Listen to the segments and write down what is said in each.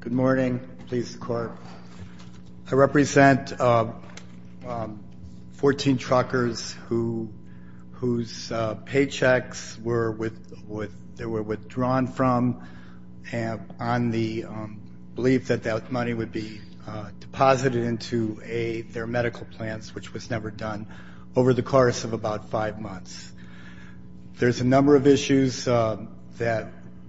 Good morning. I represent 14 truckers whose paychecks were withdrawn from on the belief that that money would be deposited into their medical plans, which was never done, over the course of about five months. There's a number of issues that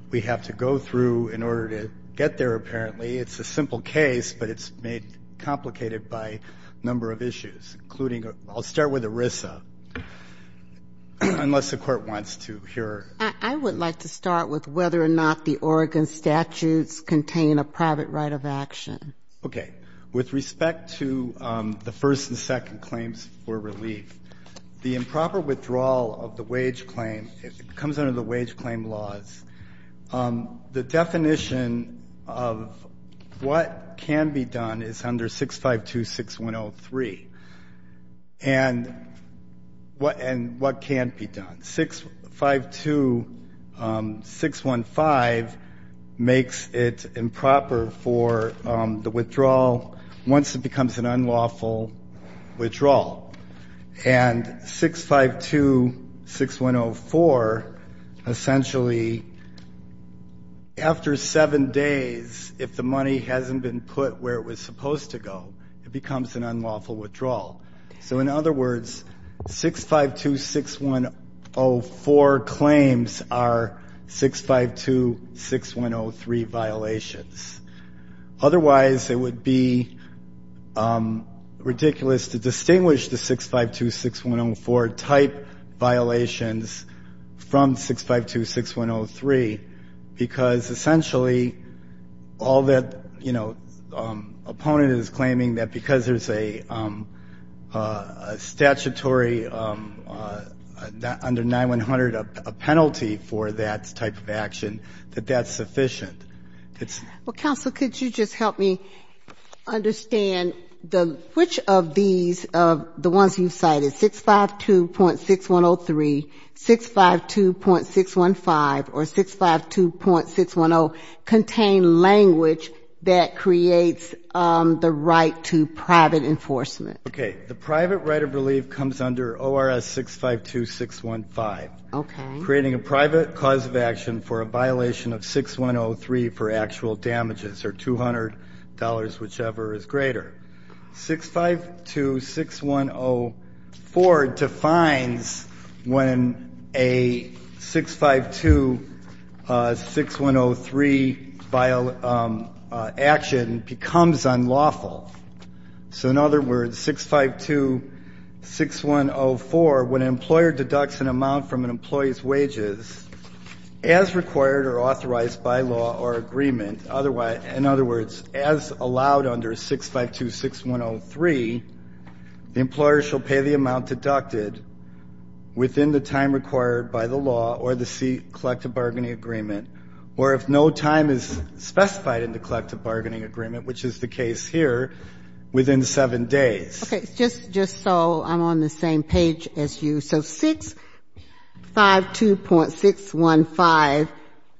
we have to go through in order to get there, apparently. It's a simple case, but it's made complicated by a number of issues, including I'll start with ERISA, unless the court wants to hear. I would like to start with whether or not the Oregon statutes contain a private right of action. Okay. With respect to the first and second claims for relief, the improper withdrawal of the wage claim comes under the wage claim laws. The definition of what can be done is under 652-6103. And what can't be done? 652-615 makes it improper for the withdrawal once it becomes an unlawful withdrawal. And 652-6104, essentially, after seven days, if the money hasn't been put where it was supposed to go, it becomes an unlawful withdrawal. So, in other words, 652-6104 claims are 652-6103 violations. Otherwise, it would be ridiculous to distinguish the 652-6104 type violations from 652-6103, because essentially, all that, you know, opponent is claiming that because there's a statutory under 9-100, a penalty for that type of action, that that's sufficient. Well, counsel, could you just help me understand which of these, the ones you cited, 652.6103, 652.615, or 652.610, contain language that creates the right to private enforcement? Okay. The private right of relief comes under ORS 652-615. Okay. Creating a private cause of action for a violation of 6103 for actual damages or $200, whichever is greater. 652-6104 defines when a 652-6103 action becomes unlawful. So, in other words, 652-6104, when an employer deducts an amount from an employee's wages, as required or authorized by law or agreement, otherwise, in other words, as allowed under 652-6103, the employer shall pay the amount deducted within the time required by the law or the collective bargaining agreement, or if no time is specified in the collective bargaining agreement, which is the case here, within 7 days. Okay. Just so I'm on the same page as you. So 652.615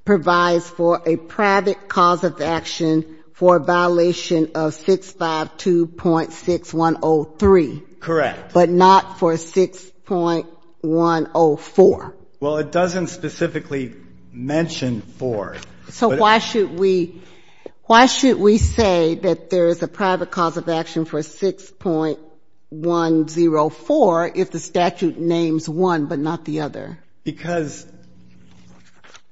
provides for a private cause of action for a violation of 652.6103. Correct. But not for 6.104. Well, it doesn't specifically mention 4. So why should we say that there is a private cause of action for 6.104 if the statute names one but not the other? Because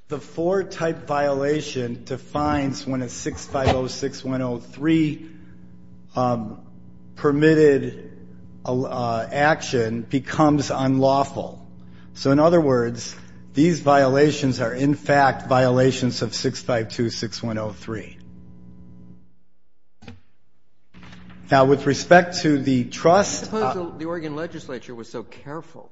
the 4-type violation defines when a 652-6103 permitted action becomes unlawful. So, in other words, these violations are, in fact, violations of 652-6103. Now, with respect to the trust. I suppose the Oregon legislature was so careful.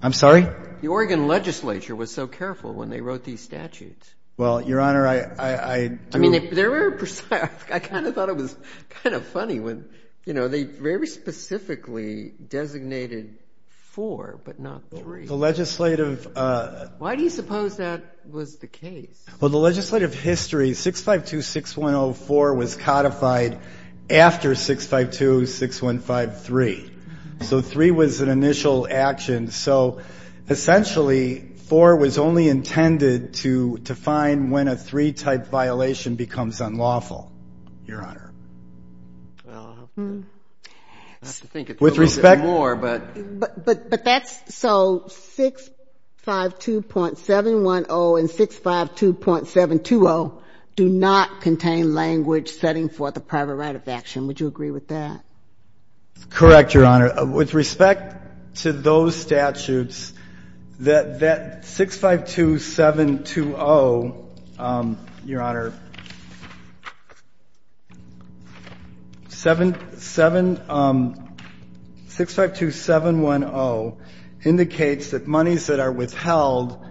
I'm sorry? The Oregon legislature was so careful when they wrote these statutes. Well, Your Honor, I do. I kind of thought it was kind of funny when, you know, they very specifically designated 4 but not 3. The legislative. Why do you suppose that was the case? Well, the legislative history, 652.6104 was codified after 652.6153. So 3 was an initial action. So, essentially, 4 was only intended to define when a 3-type violation becomes unlawful, Your Honor. With respect. But that's so 652.710 and 652.720 do not contain language setting forth a private right of action. Would you agree with that? Correct, Your Honor. With respect to those statutes, that 652.720, Your Honor, 652.710 indicates that monies that are withheld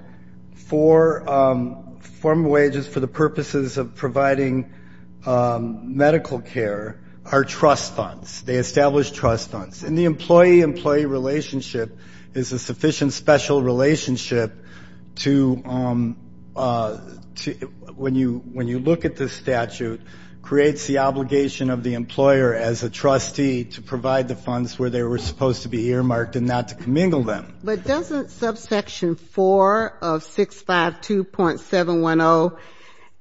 for formal wages for the purposes of providing medical care are trust funds. They establish trust funds. And the employee-employee relationship is a sufficient special relationship to when you look at the statute, creates the obligation of the employer as a trustee to provide the funds where they were supposed to be earmarked and not to commingle them. But doesn't subsection 4 of 652.710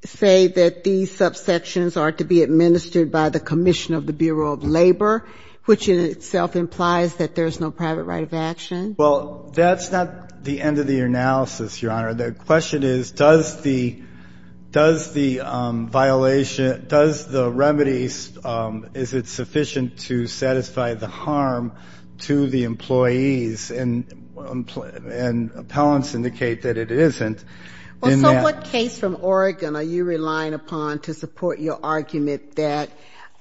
say that these subsections are to be administered by the commission of the Bureau of Labor, which in itself implies that there's no private right of action? Well, that's not the end of the analysis, Your Honor. The question is, does the violation, does the remedy, is it sufficient to satisfy the harm to the employees? And appellants indicate that it isn't. Well, so what case from Oregon are you relying upon to support your argument that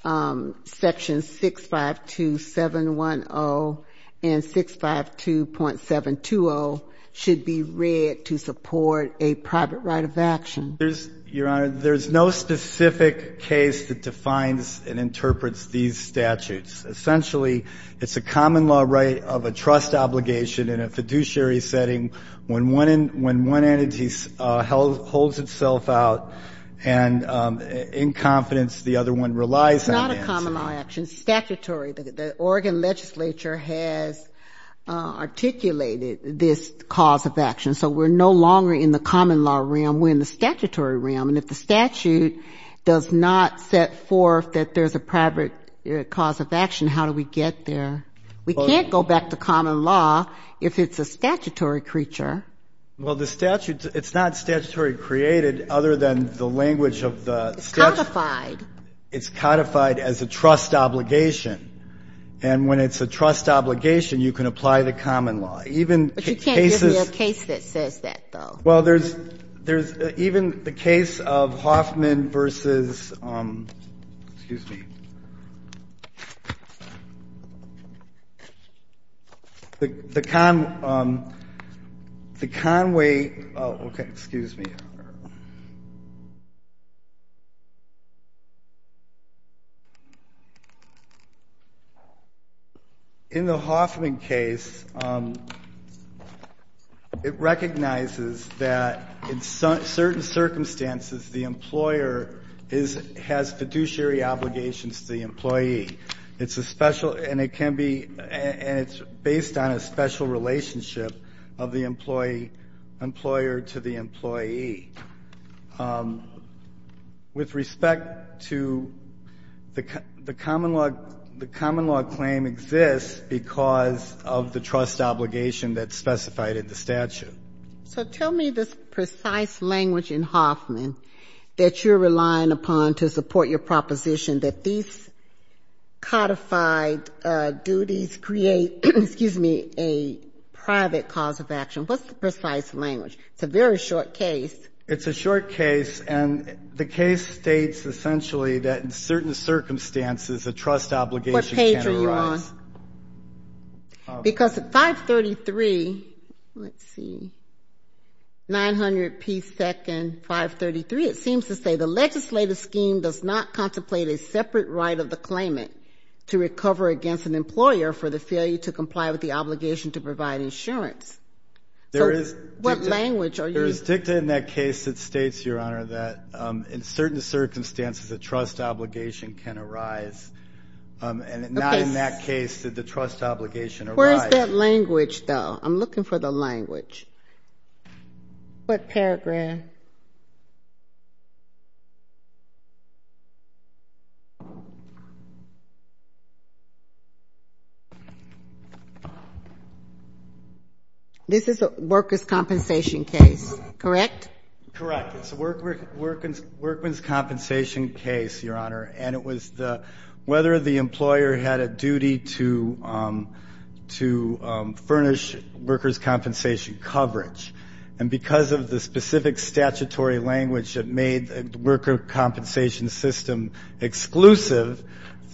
sections 652.710 and 652.720 should be read to support a private right of action? There's, Your Honor, there's no specific case that defines and interprets these statutes. It's a common law right of a trust obligation in a fiduciary setting when one entity holds itself out and in confidence the other one relies on the answer. It's not a common law action. It's statutory. The Oregon legislature has articulated this cause of action. So we're no longer in the common law realm. We're in the statutory realm. And if the statute does not set forth that there's a private cause of action, how do we get there? We can't go back to common law if it's a statutory creature. Well, the statute, it's not statutory created other than the language of the statute. It's codified. It's codified as a trust obligation. And when it's a trust obligation, you can apply the common law. But you can't give me a case that says that, though. Well, there's even the case of Hoffman versus, excuse me, the Conway. OK, excuse me. In the Hoffman case, it recognizes that in certain circumstances the employer has fiduciary obligations to the employee. And it's based on a special relationship of the employer to the employee. With respect to the common law claim exists because of the trust obligation that's specified in the statute. So tell me this precise language in Hoffman that you're relying upon to support your proposition that these codified duties create, excuse me, a private cause of action. What's the precise language? It's a very short case. It's a short case. And the case states essentially that in certain circumstances a trust obligation can arise. What page are you on? Because at 533, let's see, 900 P. 2nd, 533, it seems to say the legislative scheme does not contemplate a separate right of the claimant to recover against an employer for the failure to comply with the obligation to provide insurance. So what language are you using? There is dicta in that case that states, Your Honor, that in certain circumstances a trust obligation can arise. And not in that case did the trust obligation arise. Where is that language, though? I'm looking for the language. What paragraph? This is a worker's compensation case, correct? Correct. It's a worker's compensation case, Your Honor. And it was whether the employer had a duty to furnish worker's compensation coverage. And because of the specific statutory language that made the worker compensation system exclusive,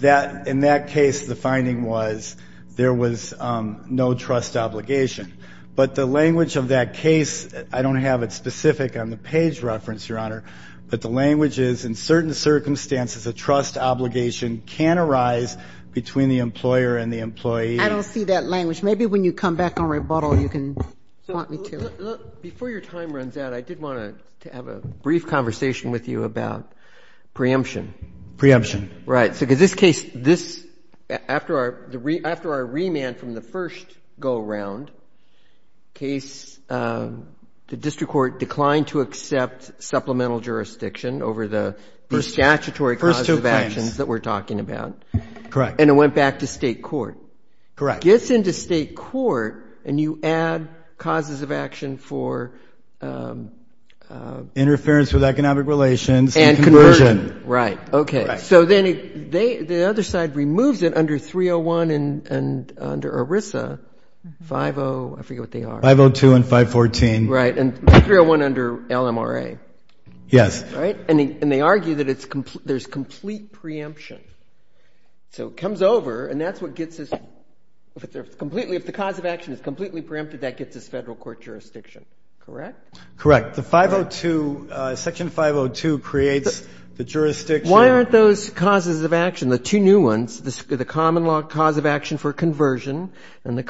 that in that case the finding was there was no trust obligation. But the language of that case, I don't have it specific on the page reference, Your Honor, but the language is in certain circumstances a trust obligation can arise between the employer and the employee. I don't see that language. Maybe when you come back on rebuttal you can point me to it. Before your time runs out, I did want to have a brief conversation with you about preemption. Preemption. Right. So in this case, after our remand from the first go-around case, the district court declined to accept supplemental jurisdiction over the statutory causes of actions that we're talking about. Correct. And it went back to State court. Correct. Gets into State court and you add causes of action for? Interference with economic relations and conversion. Right. Okay. So then the other side removes it under 301 and under ERISA, 502, I forget what they are. 502 and 514. Right. And 301 under LMRA. Yes. Right. And they argue that there's complete preemption. So it comes over and that's what gets us completely, if the cause of action is completely preempted, that gets us Federal court jurisdiction. Correct? Correct. The 502, section 502 creates the jurisdiction. Why aren't those causes of action, the two new ones, the common law cause of action for conversion and the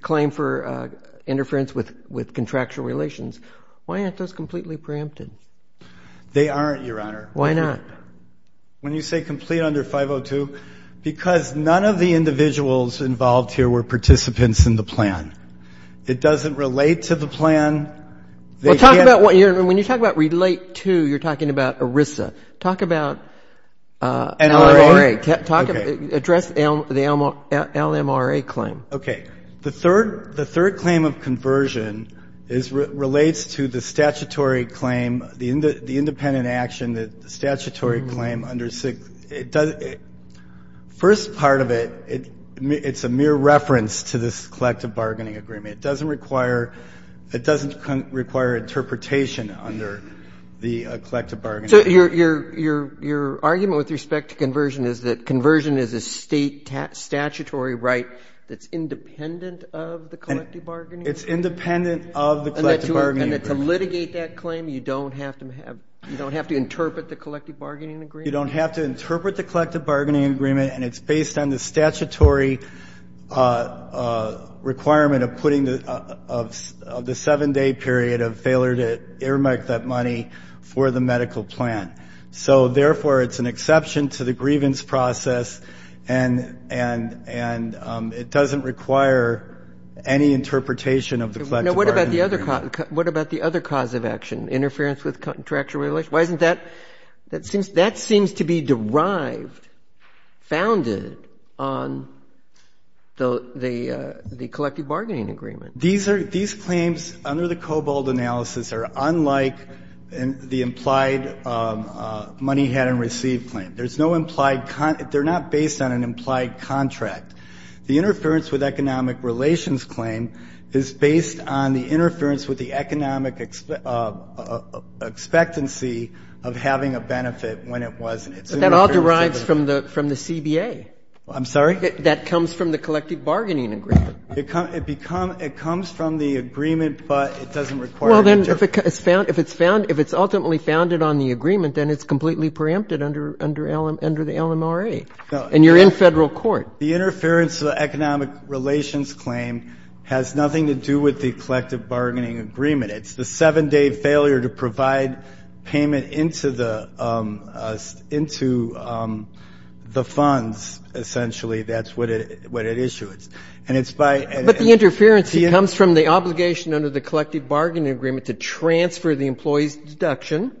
claim for interference with contractual relations, why aren't those completely preempted? They aren't, Your Honor. Why not? When you say complete under 502, because none of the individuals involved here were participants in the plan. It doesn't relate to the plan. Well, talk about what, when you talk about relate to, you're talking about ERISA. Talk about LMRA. Okay. Address the LMRA claim. Okay. The third claim of conversion is, relates to the statutory claim, the independent action, the statutory claim under, first part of it, it's a mere reference to this collective bargaining agreement. It doesn't require, it doesn't require interpretation under the collective bargaining agreement. So your argument with respect to conversion is that conversion is a state statutory right that's independent of the collective bargaining agreement? It's independent of the collective bargaining agreement. And to litigate that claim, you don't have to interpret the collective bargaining agreement? You don't have to interpret the collective bargaining agreement, and it's based on the statutory requirement of putting the seven-day period of failure to earmark that money for the medical plan. So, therefore, it's an exception to the grievance process, and it doesn't require any interpretation of the collective bargaining agreement. What about the other cause of action, interference with contractual relations? Why isn't that, that seems to be derived, founded on the collective bargaining agreement? These are, these claims under the Cobold analysis are unlike the implied money had and received claim. There's no implied, they're not based on an implied contract. The interference with economic relations claim is based on the interference with the economic expectancy of having a benefit when it wasn't. But that all derives from the CBA. I'm sorry? That comes from the collective bargaining agreement. It comes from the agreement, but it doesn't require any interpretation. Well, then, if it's found, if it's ultimately founded on the agreement, then it's completely preempted under the LMRA. And you're in Federal court. The interference of the economic relations claim has nothing to do with the collective bargaining agreement. It's the seven-day failure to provide payment into the, into the funds, essentially, that's what it, what it issues. And it's by. But the interference comes from the obligation under the collective bargaining agreement to transfer the employee's deduction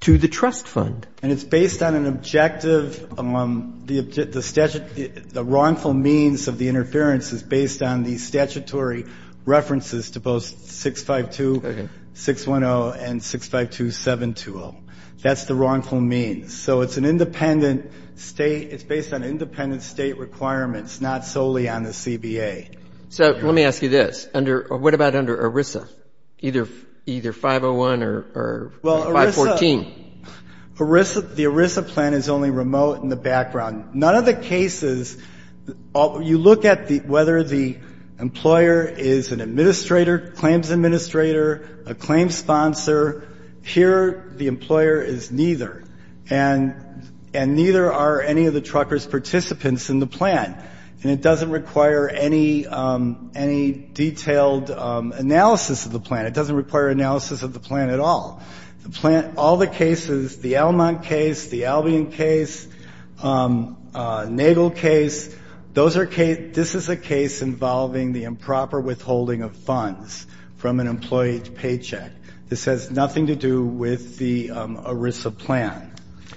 to the trust fund. And it's based on an objective, the wrongful means of the interference is based on the statutory references to both 652-610 and 652-720. That's the wrongful means. So it's an independent state. It's based on independent state requirements, not solely on the CBA. So let me ask you this. Under, what about under ERISA, either 501 or 514? Well, ERISA, ERISA, the ERISA plan is only remote in the background. None of the cases, you look at the, whether the employer is an administrator, claims administrator, a claims sponsor. Here the employer is neither. And, and neither are any of the truckers' participants in the plan. And it doesn't require any, any detailed analysis of the plan. It doesn't require analysis of the plan at all. The plan, all the cases, the Elmont case, the Albion case, Nagel case, those are case, this is a case involving the improper withholding of funds from an employee's paycheck. This has nothing to do with the ERISA plan.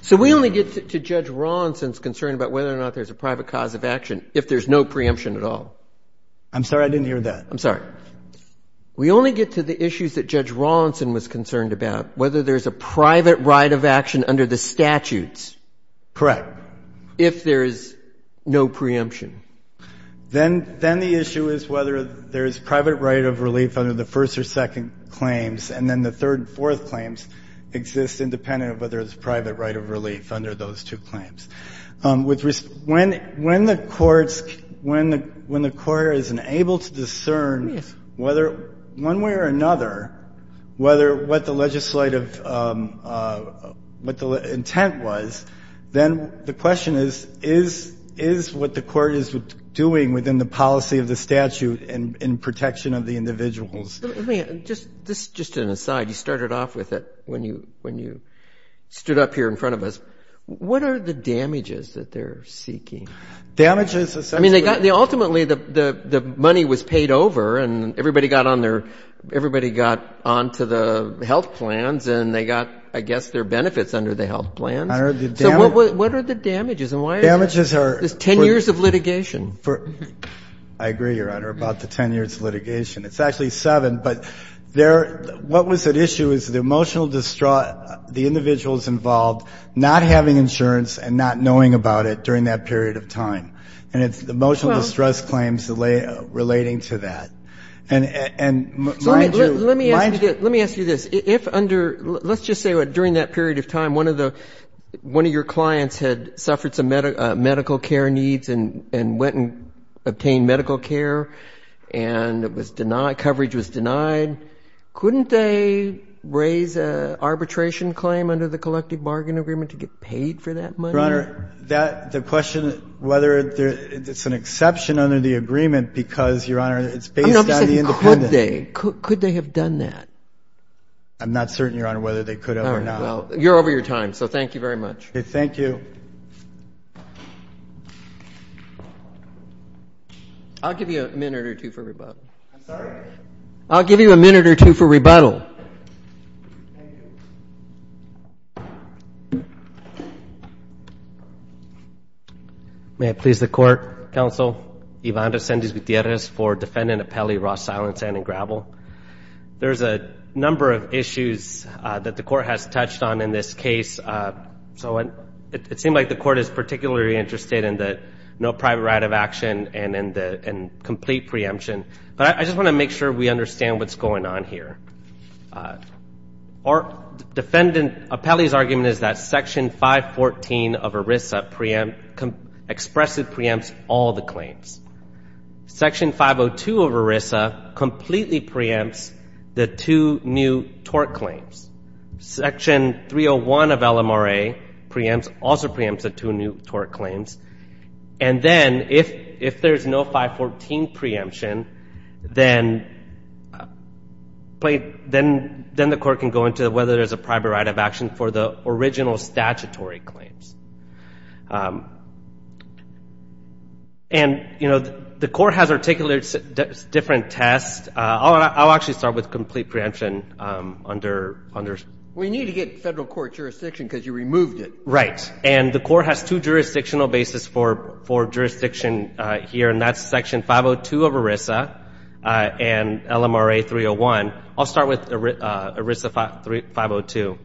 So we only get to Judge Rawlinson's concern about whether or not there's a private cause of action if there's no preemption at all? I'm sorry. I didn't hear that. I'm sorry. We only get to the issues that Judge Rawlinson was concerned about, whether there's a private right of action under the statutes. Correct. If there is no preemption. Then, then the issue is whether there is private right of relief under the first or second claims, and then the third and fourth claims exist independent of whether there's private right of relief under those two claims. When the courts, when the court is unable to discern whether, one way or another, whether what the legislative, what the intent was, then the question is, is what the court is doing within the policy of the statute in protection of the individuals? Let me just, this is just an aside. You started off with it when you stood up here in front of us. What are the damages that they're seeking? Damages? I mean, ultimately the money was paid over, and everybody got on their, everybody got onto the health plans, and they got, I guess, their benefits under the health plans. So what are the damages, and why is that? Damages are There's 10 years of litigation. I agree, Your Honor, about the 10 years of litigation. It's actually seven, but what was at issue is the emotional distraught, the individuals involved not having insurance and not knowing about it during that period of time. And it's emotional distress claims relating to that. And mind you, Let me ask you this. If under, let's just say during that period of time one of the, one of your clients had suffered some medical care needs and went and obtained medical care, and it was to get paid for that money? Your Honor, that, the question whether there, it's an exception under the agreement because, Your Honor, it's based on the independence. I'm not saying could they. Could they have done that? I'm not certain, Your Honor, whether they could have or not. All right. Well, you're over your time, so thank you very much. Okay. Thank you. I'll give you a minute or two for rebuttal. I'm sorry? I'll give you a minute or two for rebuttal. Thank you. Thank you. May it please the Court, Counsel, Ivan Resendiz Gutierrez for defendant appellee Ross Silentzan and Gravel. There's a number of issues that the Court has touched on in this case. So it seems like the Court is particularly interested in the no private right of action and in the complete preemption. But I just want to make sure we understand what's going on here. Defendant appellee's argument is that Section 514 of ERISA expresses preempts all the claims. Section 502 of ERISA completely preempts the two new tort claims. Section 301 of LMRA also preempts the two new tort claims. And then if there's no 514 preemption, then the Court can go into whether there's a private right of action for the original statutory claims. And, you know, the Court has articulated different tests. I'll actually start with complete preemption. We need to get federal court jurisdiction because you removed it. Right. And the Court has two jurisdictional bases for jurisdiction here, and that's Section 502 of ERISA and LMRA 301. I'll start with ERISA 502.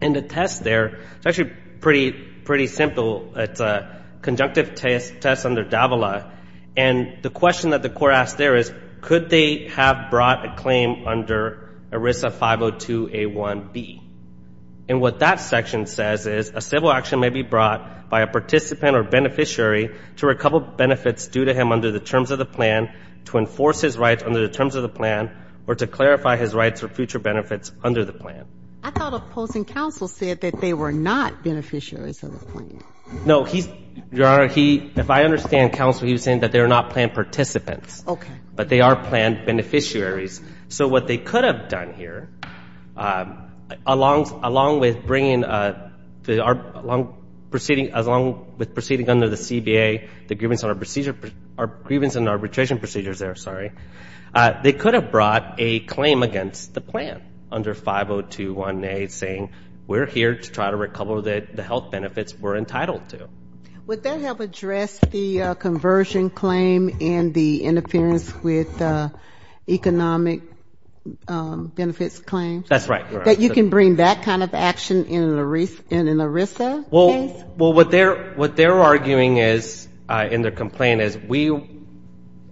And the test there is actually pretty simple. It's a conjunctive test under Davila. And the question that the Court asked there is, could they have brought a claim under ERISA 502A1B? And what that section says is a civil action may be brought by a participant or beneficiary to recover benefits due to him under the terms of the plan, to enforce his rights under the terms of the plan, or to clarify his rights or future benefits under the plan. I thought opposing counsel said that they were not beneficiaries of the plan. No. Your Honor, if I understand counsel, he was saying that they're not planned participants. Okay. But they are planned beneficiaries. So what they could have done here, along with proceeding under the CBA, the grievance and arbitration procedures there, sorry, they could have brought a claim against the plan under 502A1A, saying we're here to try to recover the health benefits we're entitled to. Would that help address the conversion claim and the interference with economic benefits claim? That's right, Your Honor. That you can bring that kind of action in an ERISA case? Well, what they're arguing is, in their complaint, is we,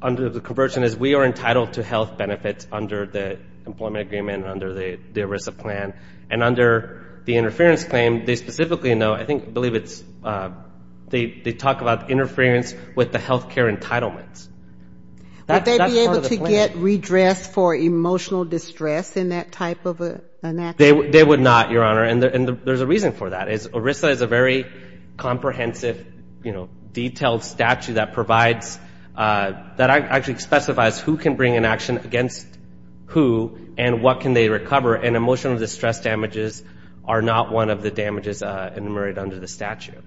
under the conversion is we are entitled to health benefits under the employment agreement and under the ERISA plan. And under the interference claim, they specifically know, I believe it's, they talk about interference with the health care entitlements. Would they be able to get redress for emotional distress in that type of an action? They would not, Your Honor, and there's a reason for that. ERISA is a very comprehensive, you know, detailed statute that provides, that actually specifies who can bring an action against who and what can they recover. And emotional distress damages are not one of the damages enumerated under the statute.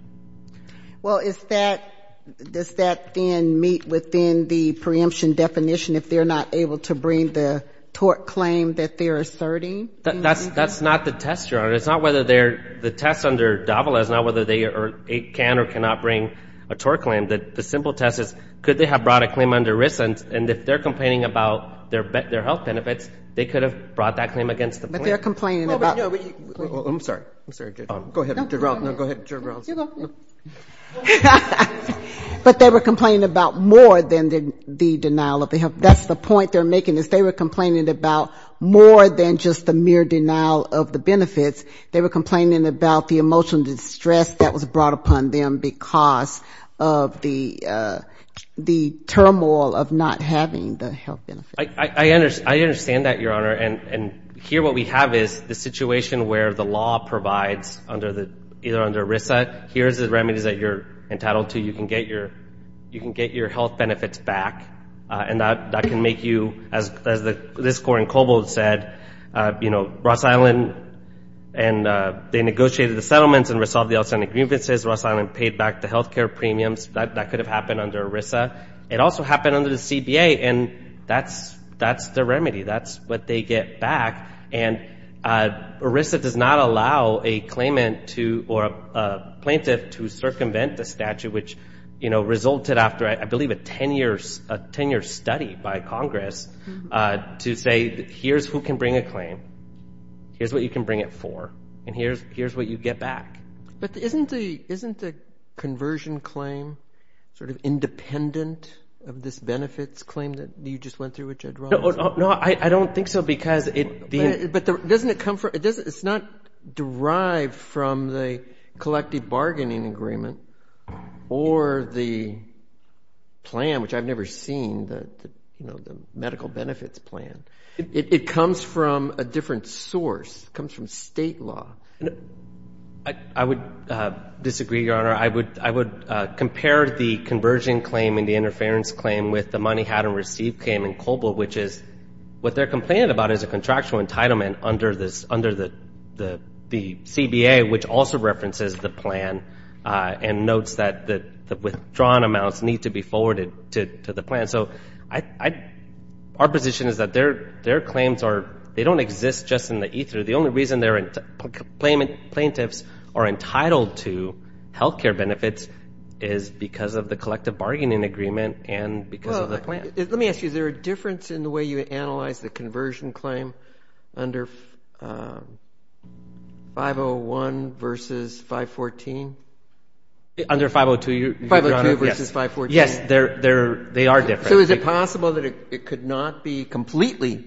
Well, is that, does that then meet within the preemption definition if they're not able to bring the tort claim that they're asserting? That's not the test, Your Honor. It's not whether they're, the test under DAVALA is not whether they can or cannot bring a tort claim. The simple test is, could they have brought a claim under ERISA, and if they're complaining about their health benefits, they could have brought that claim against the point. But they're complaining about... I'm sorry. I'm sorry. Go ahead. But they were complaining about more than the denial of the health. That's the point they're making is they were complaining about more than just the mere denial of the benefits. They were complaining about the emotional distress that was brought upon them because of the turmoil of not having the health benefits. I understand that, Your Honor. And here what we have is the situation where the law provides either under ERISA, here's the remedies that you're entitled to. You can get your health benefits back. And that can make you, as this Court in Cobol said, you know, Ross Island, and they negotiated the settlements and resolved the outstanding grievances. Ross Island paid back the health care premiums. That could have happened under ERISA. It also happened under the CBA, and that's the remedy. That's what they get back. And ERISA does not allow a claimant or a plaintiff to circumvent the statute, which, you know, resulted after, I believe, a 10-year study by Congress to say, here's who can bring a claim, here's what you can bring it for, and here's what you get back. But isn't the conversion claim sort of independent of this benefits claim that you just went through with Jed Ross? No, I don't think so because it – But doesn't it come from – it's not derived from the collective bargaining agreement or the plan, which I've never seen, the medical benefits plan. It comes from a different source. It comes from state law. I would disagree, Your Honor. I would compare the conversion claim and the interference claim with the money had and received claim in COBOL, which is – what they're complaining about is a contractual entitlement under the CBA, which also references the plan and notes that the withdrawn amounts need to be forwarded to the plan. So our position is that their claims are – they don't exist just in the ether. The only reason their plaintiffs are entitled to health care benefits is because of the collective bargaining agreement and because of the plan. Let me ask you, is there a difference in the way you analyze the conversion claim under 501 versus 514? Under 502, Your Honor, yes. 502 versus 514. Yes, they are different. So is it possible that it could not be completely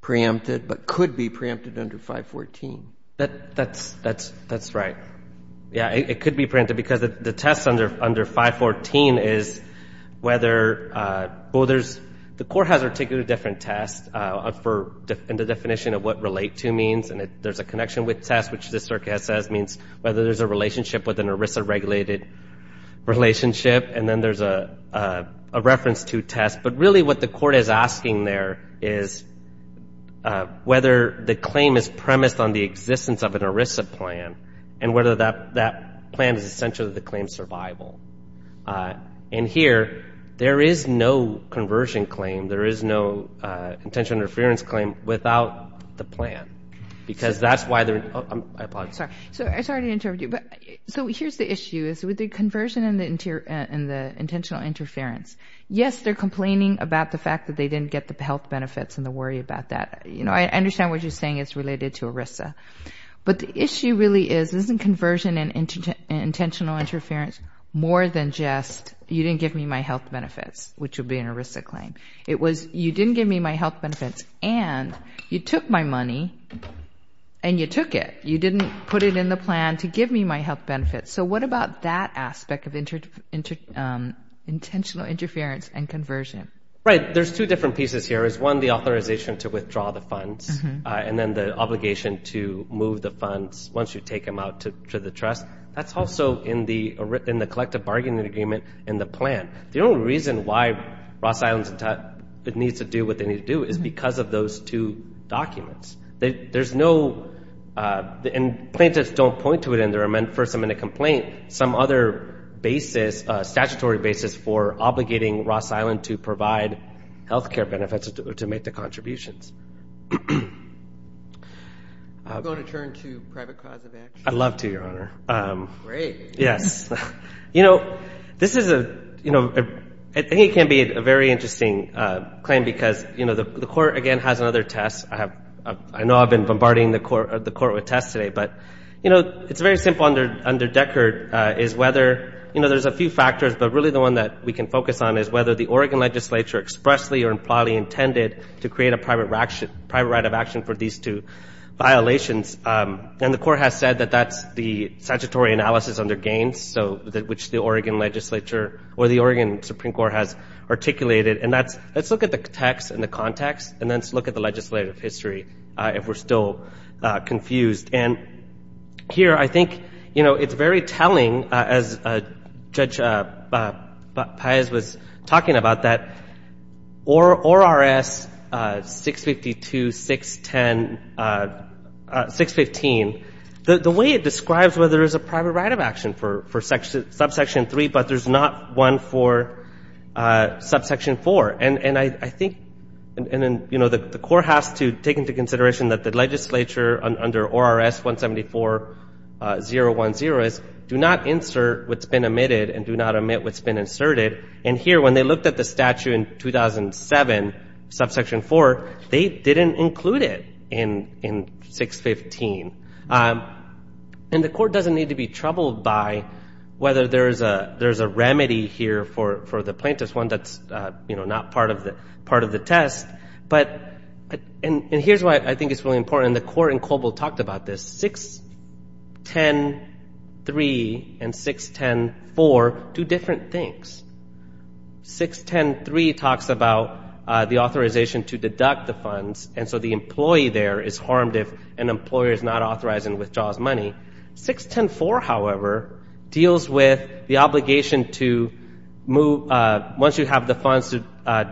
preempted but could be preempted under 514? That's right. Yeah, it could be preempted because the test under 514 is whether – well, there's – the court has articulated a different test in the definition of what relate to means, and there's a connection with test, which this circuit says means whether there's a relationship with an ERISA-regulated relationship. And then there's a reference to test. But really what the court is asking there is whether the claim is premised on the existence of an ERISA plan and whether that plan is essential to the claim's survival. And here, there is no conversion claim, there is no intentional interference claim without the plan because that's why they're – I apologize. Sorry. So here's the issue is with the conversion and the intentional interference. Yes, they're complaining about the fact that they didn't get the health benefits and the worry about that. I understand what you're saying is related to ERISA, but the issue really is isn't conversion and intentional interference more than just you didn't give me my health benefits, which would be an ERISA claim. It was you didn't give me my health benefits and you took my money and you took it. You didn't put it in the plan to give me my health benefits. So what about that aspect of intentional interference and conversion? Right. There's two different pieces here is, one, the authorization to withdraw the funds and then the obligation to move the funds once you take them out to the trust. That's also in the collective bargaining agreement in the plan. The only reason why Ross Islands needs to do what they need to do is because of those two documents. There's no – and plaintiffs don't point to it in their first amendment complaint. Some other basis, statutory basis for obligating Ross Island to provide health care benefits to make the contributions. Do you want to turn to private cause of action? I'd love to, Your Honor. Great. Yes. You know, this is a – I think it can be a very interesting claim because, you know, the court, again, has another test. I know I've been bombarding the court with tests today. But, you know, it's very simple under Deckard is whether – you know, there's a few factors, but really the one that we can focus on is whether the Oregon legislature expressly or impliedly intended to create a private right of action for these two violations. And the court has said that that's the statutory analysis under Gaines, which the Oregon legislature or the Oregon Supreme Court has articulated. And that's – let's look at the text and the context, and then let's look at the legislative history if we're still confused. And here I think, you know, it's very telling, as Judge Paez was talking about, that ORRS 652, 610, 615, the way it describes whether there's a private right of action for subsection 3, but there's not one for subsection 4. And I think – and, you know, the court has to take into consideration that the legislature under ORRS 174-010 is do not insert what's been omitted and do not omit what's been inserted. And here, when they looked at the statute in 2007, subsection 4, they didn't include it in 615. And the court doesn't need to be troubled by whether there's a remedy here for the plaintiff's one that's, you know, not part of the test. But – and here's why I think it's really important, and the court in Coble talked about this. 610-3 and 610-4 do different things. 610-3 talks about the authorization to deduct the funds, and so the employee there is harmed if an employer is not authorized and withdraws money. 610-4, however, deals with the obligation to move – once you have the funds, to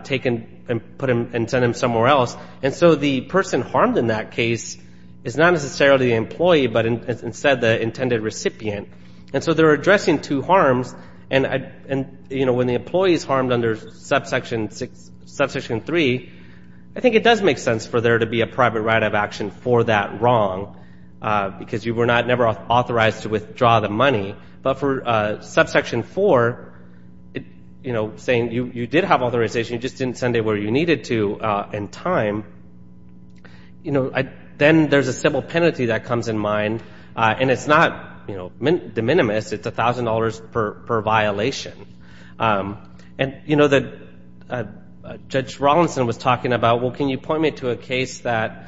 take and put them and send them somewhere else. And so the person harmed in that case is not necessarily the employee, but instead the intended recipient. And so they're addressing two harms. And, you know, when the employee is harmed under subsection 3, I think it does make sense for there to be a private right of action for that wrong, because you were not – never authorized to withdraw the money. But for subsection 4, you know, saying you did have authorization, you just didn't send it where you needed to in time, you know, then there's a civil penalty that comes in mind. And it's not, you know, de minimis. It's $1,000 per violation. And, you know, Judge Rawlinson was talking about, well, can you point me to a case that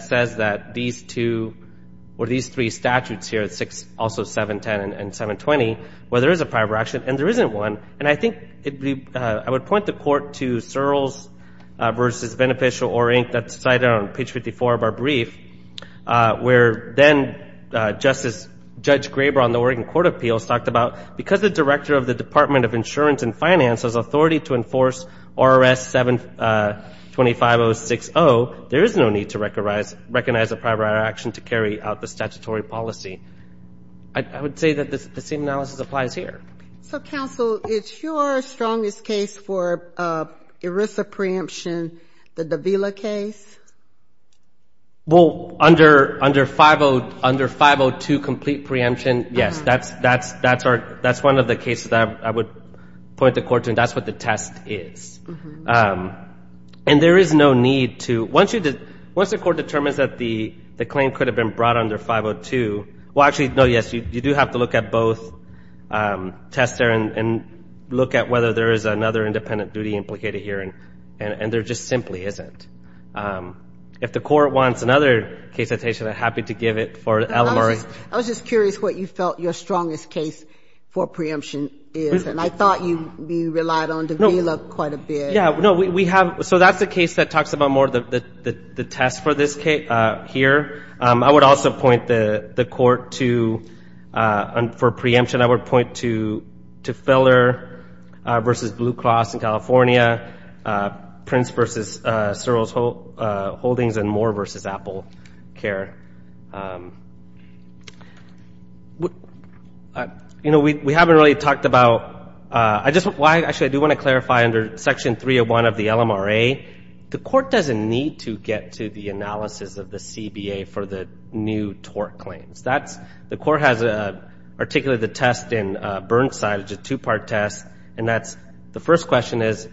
says that these two or these three statutes here, also 710 and 720, where there is a private right of action and there isn't one. And I think I would point the court to Searles v. Beneficial or Inc. that's cited on page 54 of our brief, where then Justice – Judge Graber on the Oregon Court of Appeals talked about because the director of the Department of Insurance and Finance has authority to enforce RRS 7205060, there is no need to recognize a private right of action to carry out the statutory policy. I would say that the same analysis applies here. So, counsel, it's your strongest case for ERISA preemption, the Davila case? Well, under 502 complete preemption, yes, that's one of the cases that I would point the court to, and that's what the test is. And there is no need to – once the court determines that the claim could have been brought under 502 – well, actually, no, yes, you do have to look at both tests there and look at whether there is another independent duty implicated here, and there just simply isn't. If the court wants another case citation, I'm happy to give it for LMRI. I was just curious what you felt your strongest case for preemption is, and I thought you relied on Davila quite a bit. Yeah, no, we have – so that's the case that talks about more the test for this case here. I would also point the court to – for preemption, I would point to Filler v. Blue Cross in California, Prince v. Searles Holdings, and Moore v. Apple Care. You know, we haven't really talked about – actually, I do want to clarify under Section 301 of the LMRA, the court doesn't need to get to the analysis of the CBA for the new tort claims. That's – the court has articulated the test in Burnside, which is a two-part test, and that's – the first question is,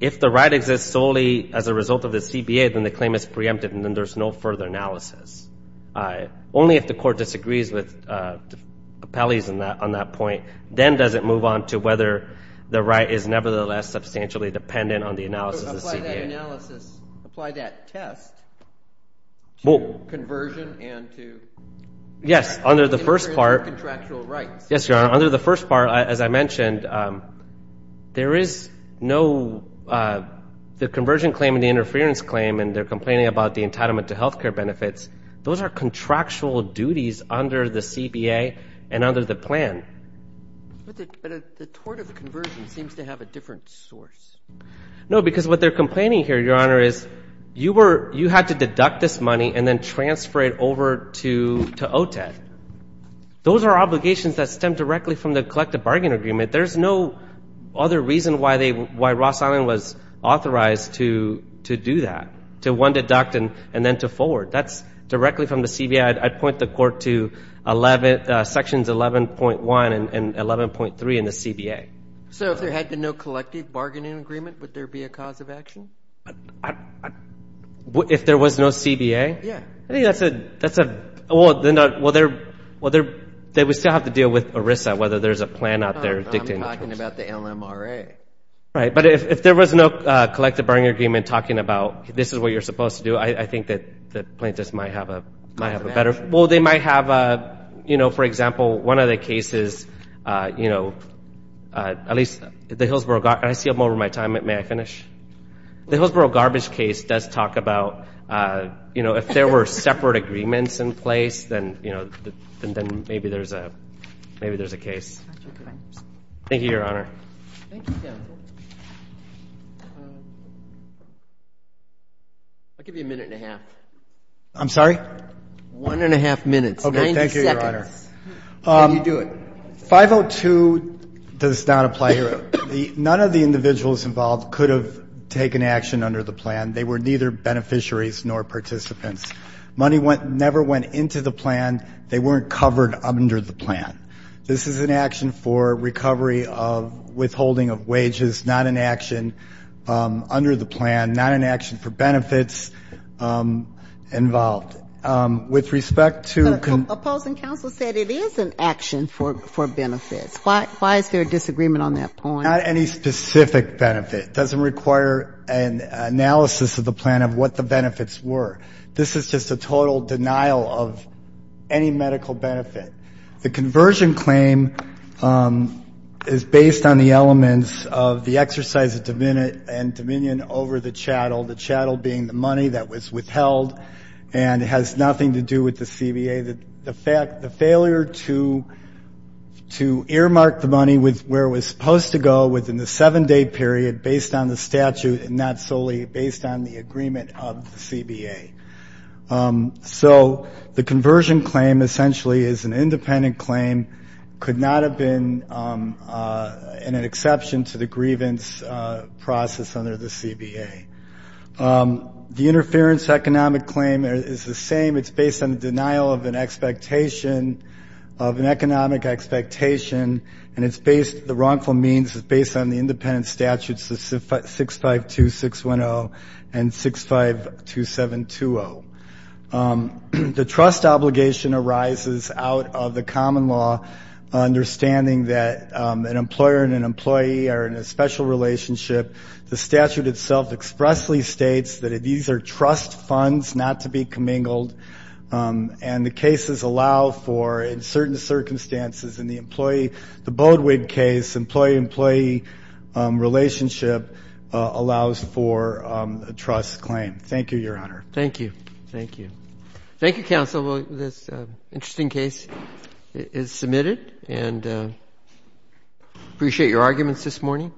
if the right exists solely as a result of the CBA, then the claim is preempted and then there's no further analysis. Only if the court disagrees with appellees on that point, then does it move on to whether the right is nevertheless substantially dependent on the analysis of the CBA. Apply that analysis, apply that test to conversion and to interference with contractual rights. Yes, Your Honor, under the first part, as I mentioned, there is no – the conversion claim and the interference claim, and they're complaining about the entitlement to health care benefits, those are contractual duties under the CBA and under the plan. But the tort of the conversion seems to have a different source. No, because what they're complaining here, Your Honor, is you were – you had to deduct this money and then transfer it over to OTED. Those are obligations that stem directly from the collective bargaining agreement. There's no other reason why they – why Ross Island was authorized to do that, to one deduct and then to forward. That's directly from the CBA. I'd point the court to Sections 11.1 and 11.3 in the CBA. So if there had been no collective bargaining agreement, would there be a cause of action? If there was no CBA? Yeah. I think that's a – well, they would still have to deal with ERISA, whether there's a plan out there dictating the tort. I'm talking about the LMRA. Right, but if there was no collective bargaining agreement talking about this is what you're supposed to do, I think that plaintiffs might have a better – well, they might have a – you know, for example, one of the cases, you know, at least the Hillsborough – and I see I'm over my time. May I finish? The Hillsborough garbage case does talk about, you know, if there were separate agreements in place, then, you know, then maybe there's a case. Thank you, Your Honor. Thank you, Daniel. I'll give you a minute and a half. I'm sorry? One and a half minutes, 90 seconds. Okay. Thank you, Your Honor. How do you do it? 502 does not apply here. None of the individuals involved could have taken action under the plan. They were neither beneficiaries nor participants. Money never went into the plan. They weren't covered under the plan. This is an action for recovery of withholding of wages, not an action under the plan, not an action for benefits involved. With respect to – Opposing counsel said it is an action for benefits. Why is there a disagreement on that point? Not any specific benefit. It doesn't require an analysis of the plan of what the benefits were. This is just a total denial of any medical benefit. The conversion claim is based on the elements of the exercise of dominion over the chattel, the chattel being the money that was withheld and has nothing to do with the CBA. The failure to earmark the money with where it was supposed to go within the seven-day period based on the statute and not solely based on the agreement of the CBA. So the conversion claim essentially is an independent claim, could not have been an exception to the grievance process under the CBA. The interference economic claim is the same. It's based on the denial of an expectation, of an economic expectation, and the wrongful means is based on the independent statutes, 652610 and 652720. The trust obligation arises out of the common law, understanding that an employer and an employee are in a special relationship. The statute itself expressly states that these are trust funds not to be commingled, and the cases allow for, in certain circumstances, in the employee, the Boudwig case, employee-employee relationship allows for a trust claim. Thank you, Your Honor. Thank you. Thank you. Thank you, Counsel. This interesting case is submitted, and I appreciate your arguments this morning.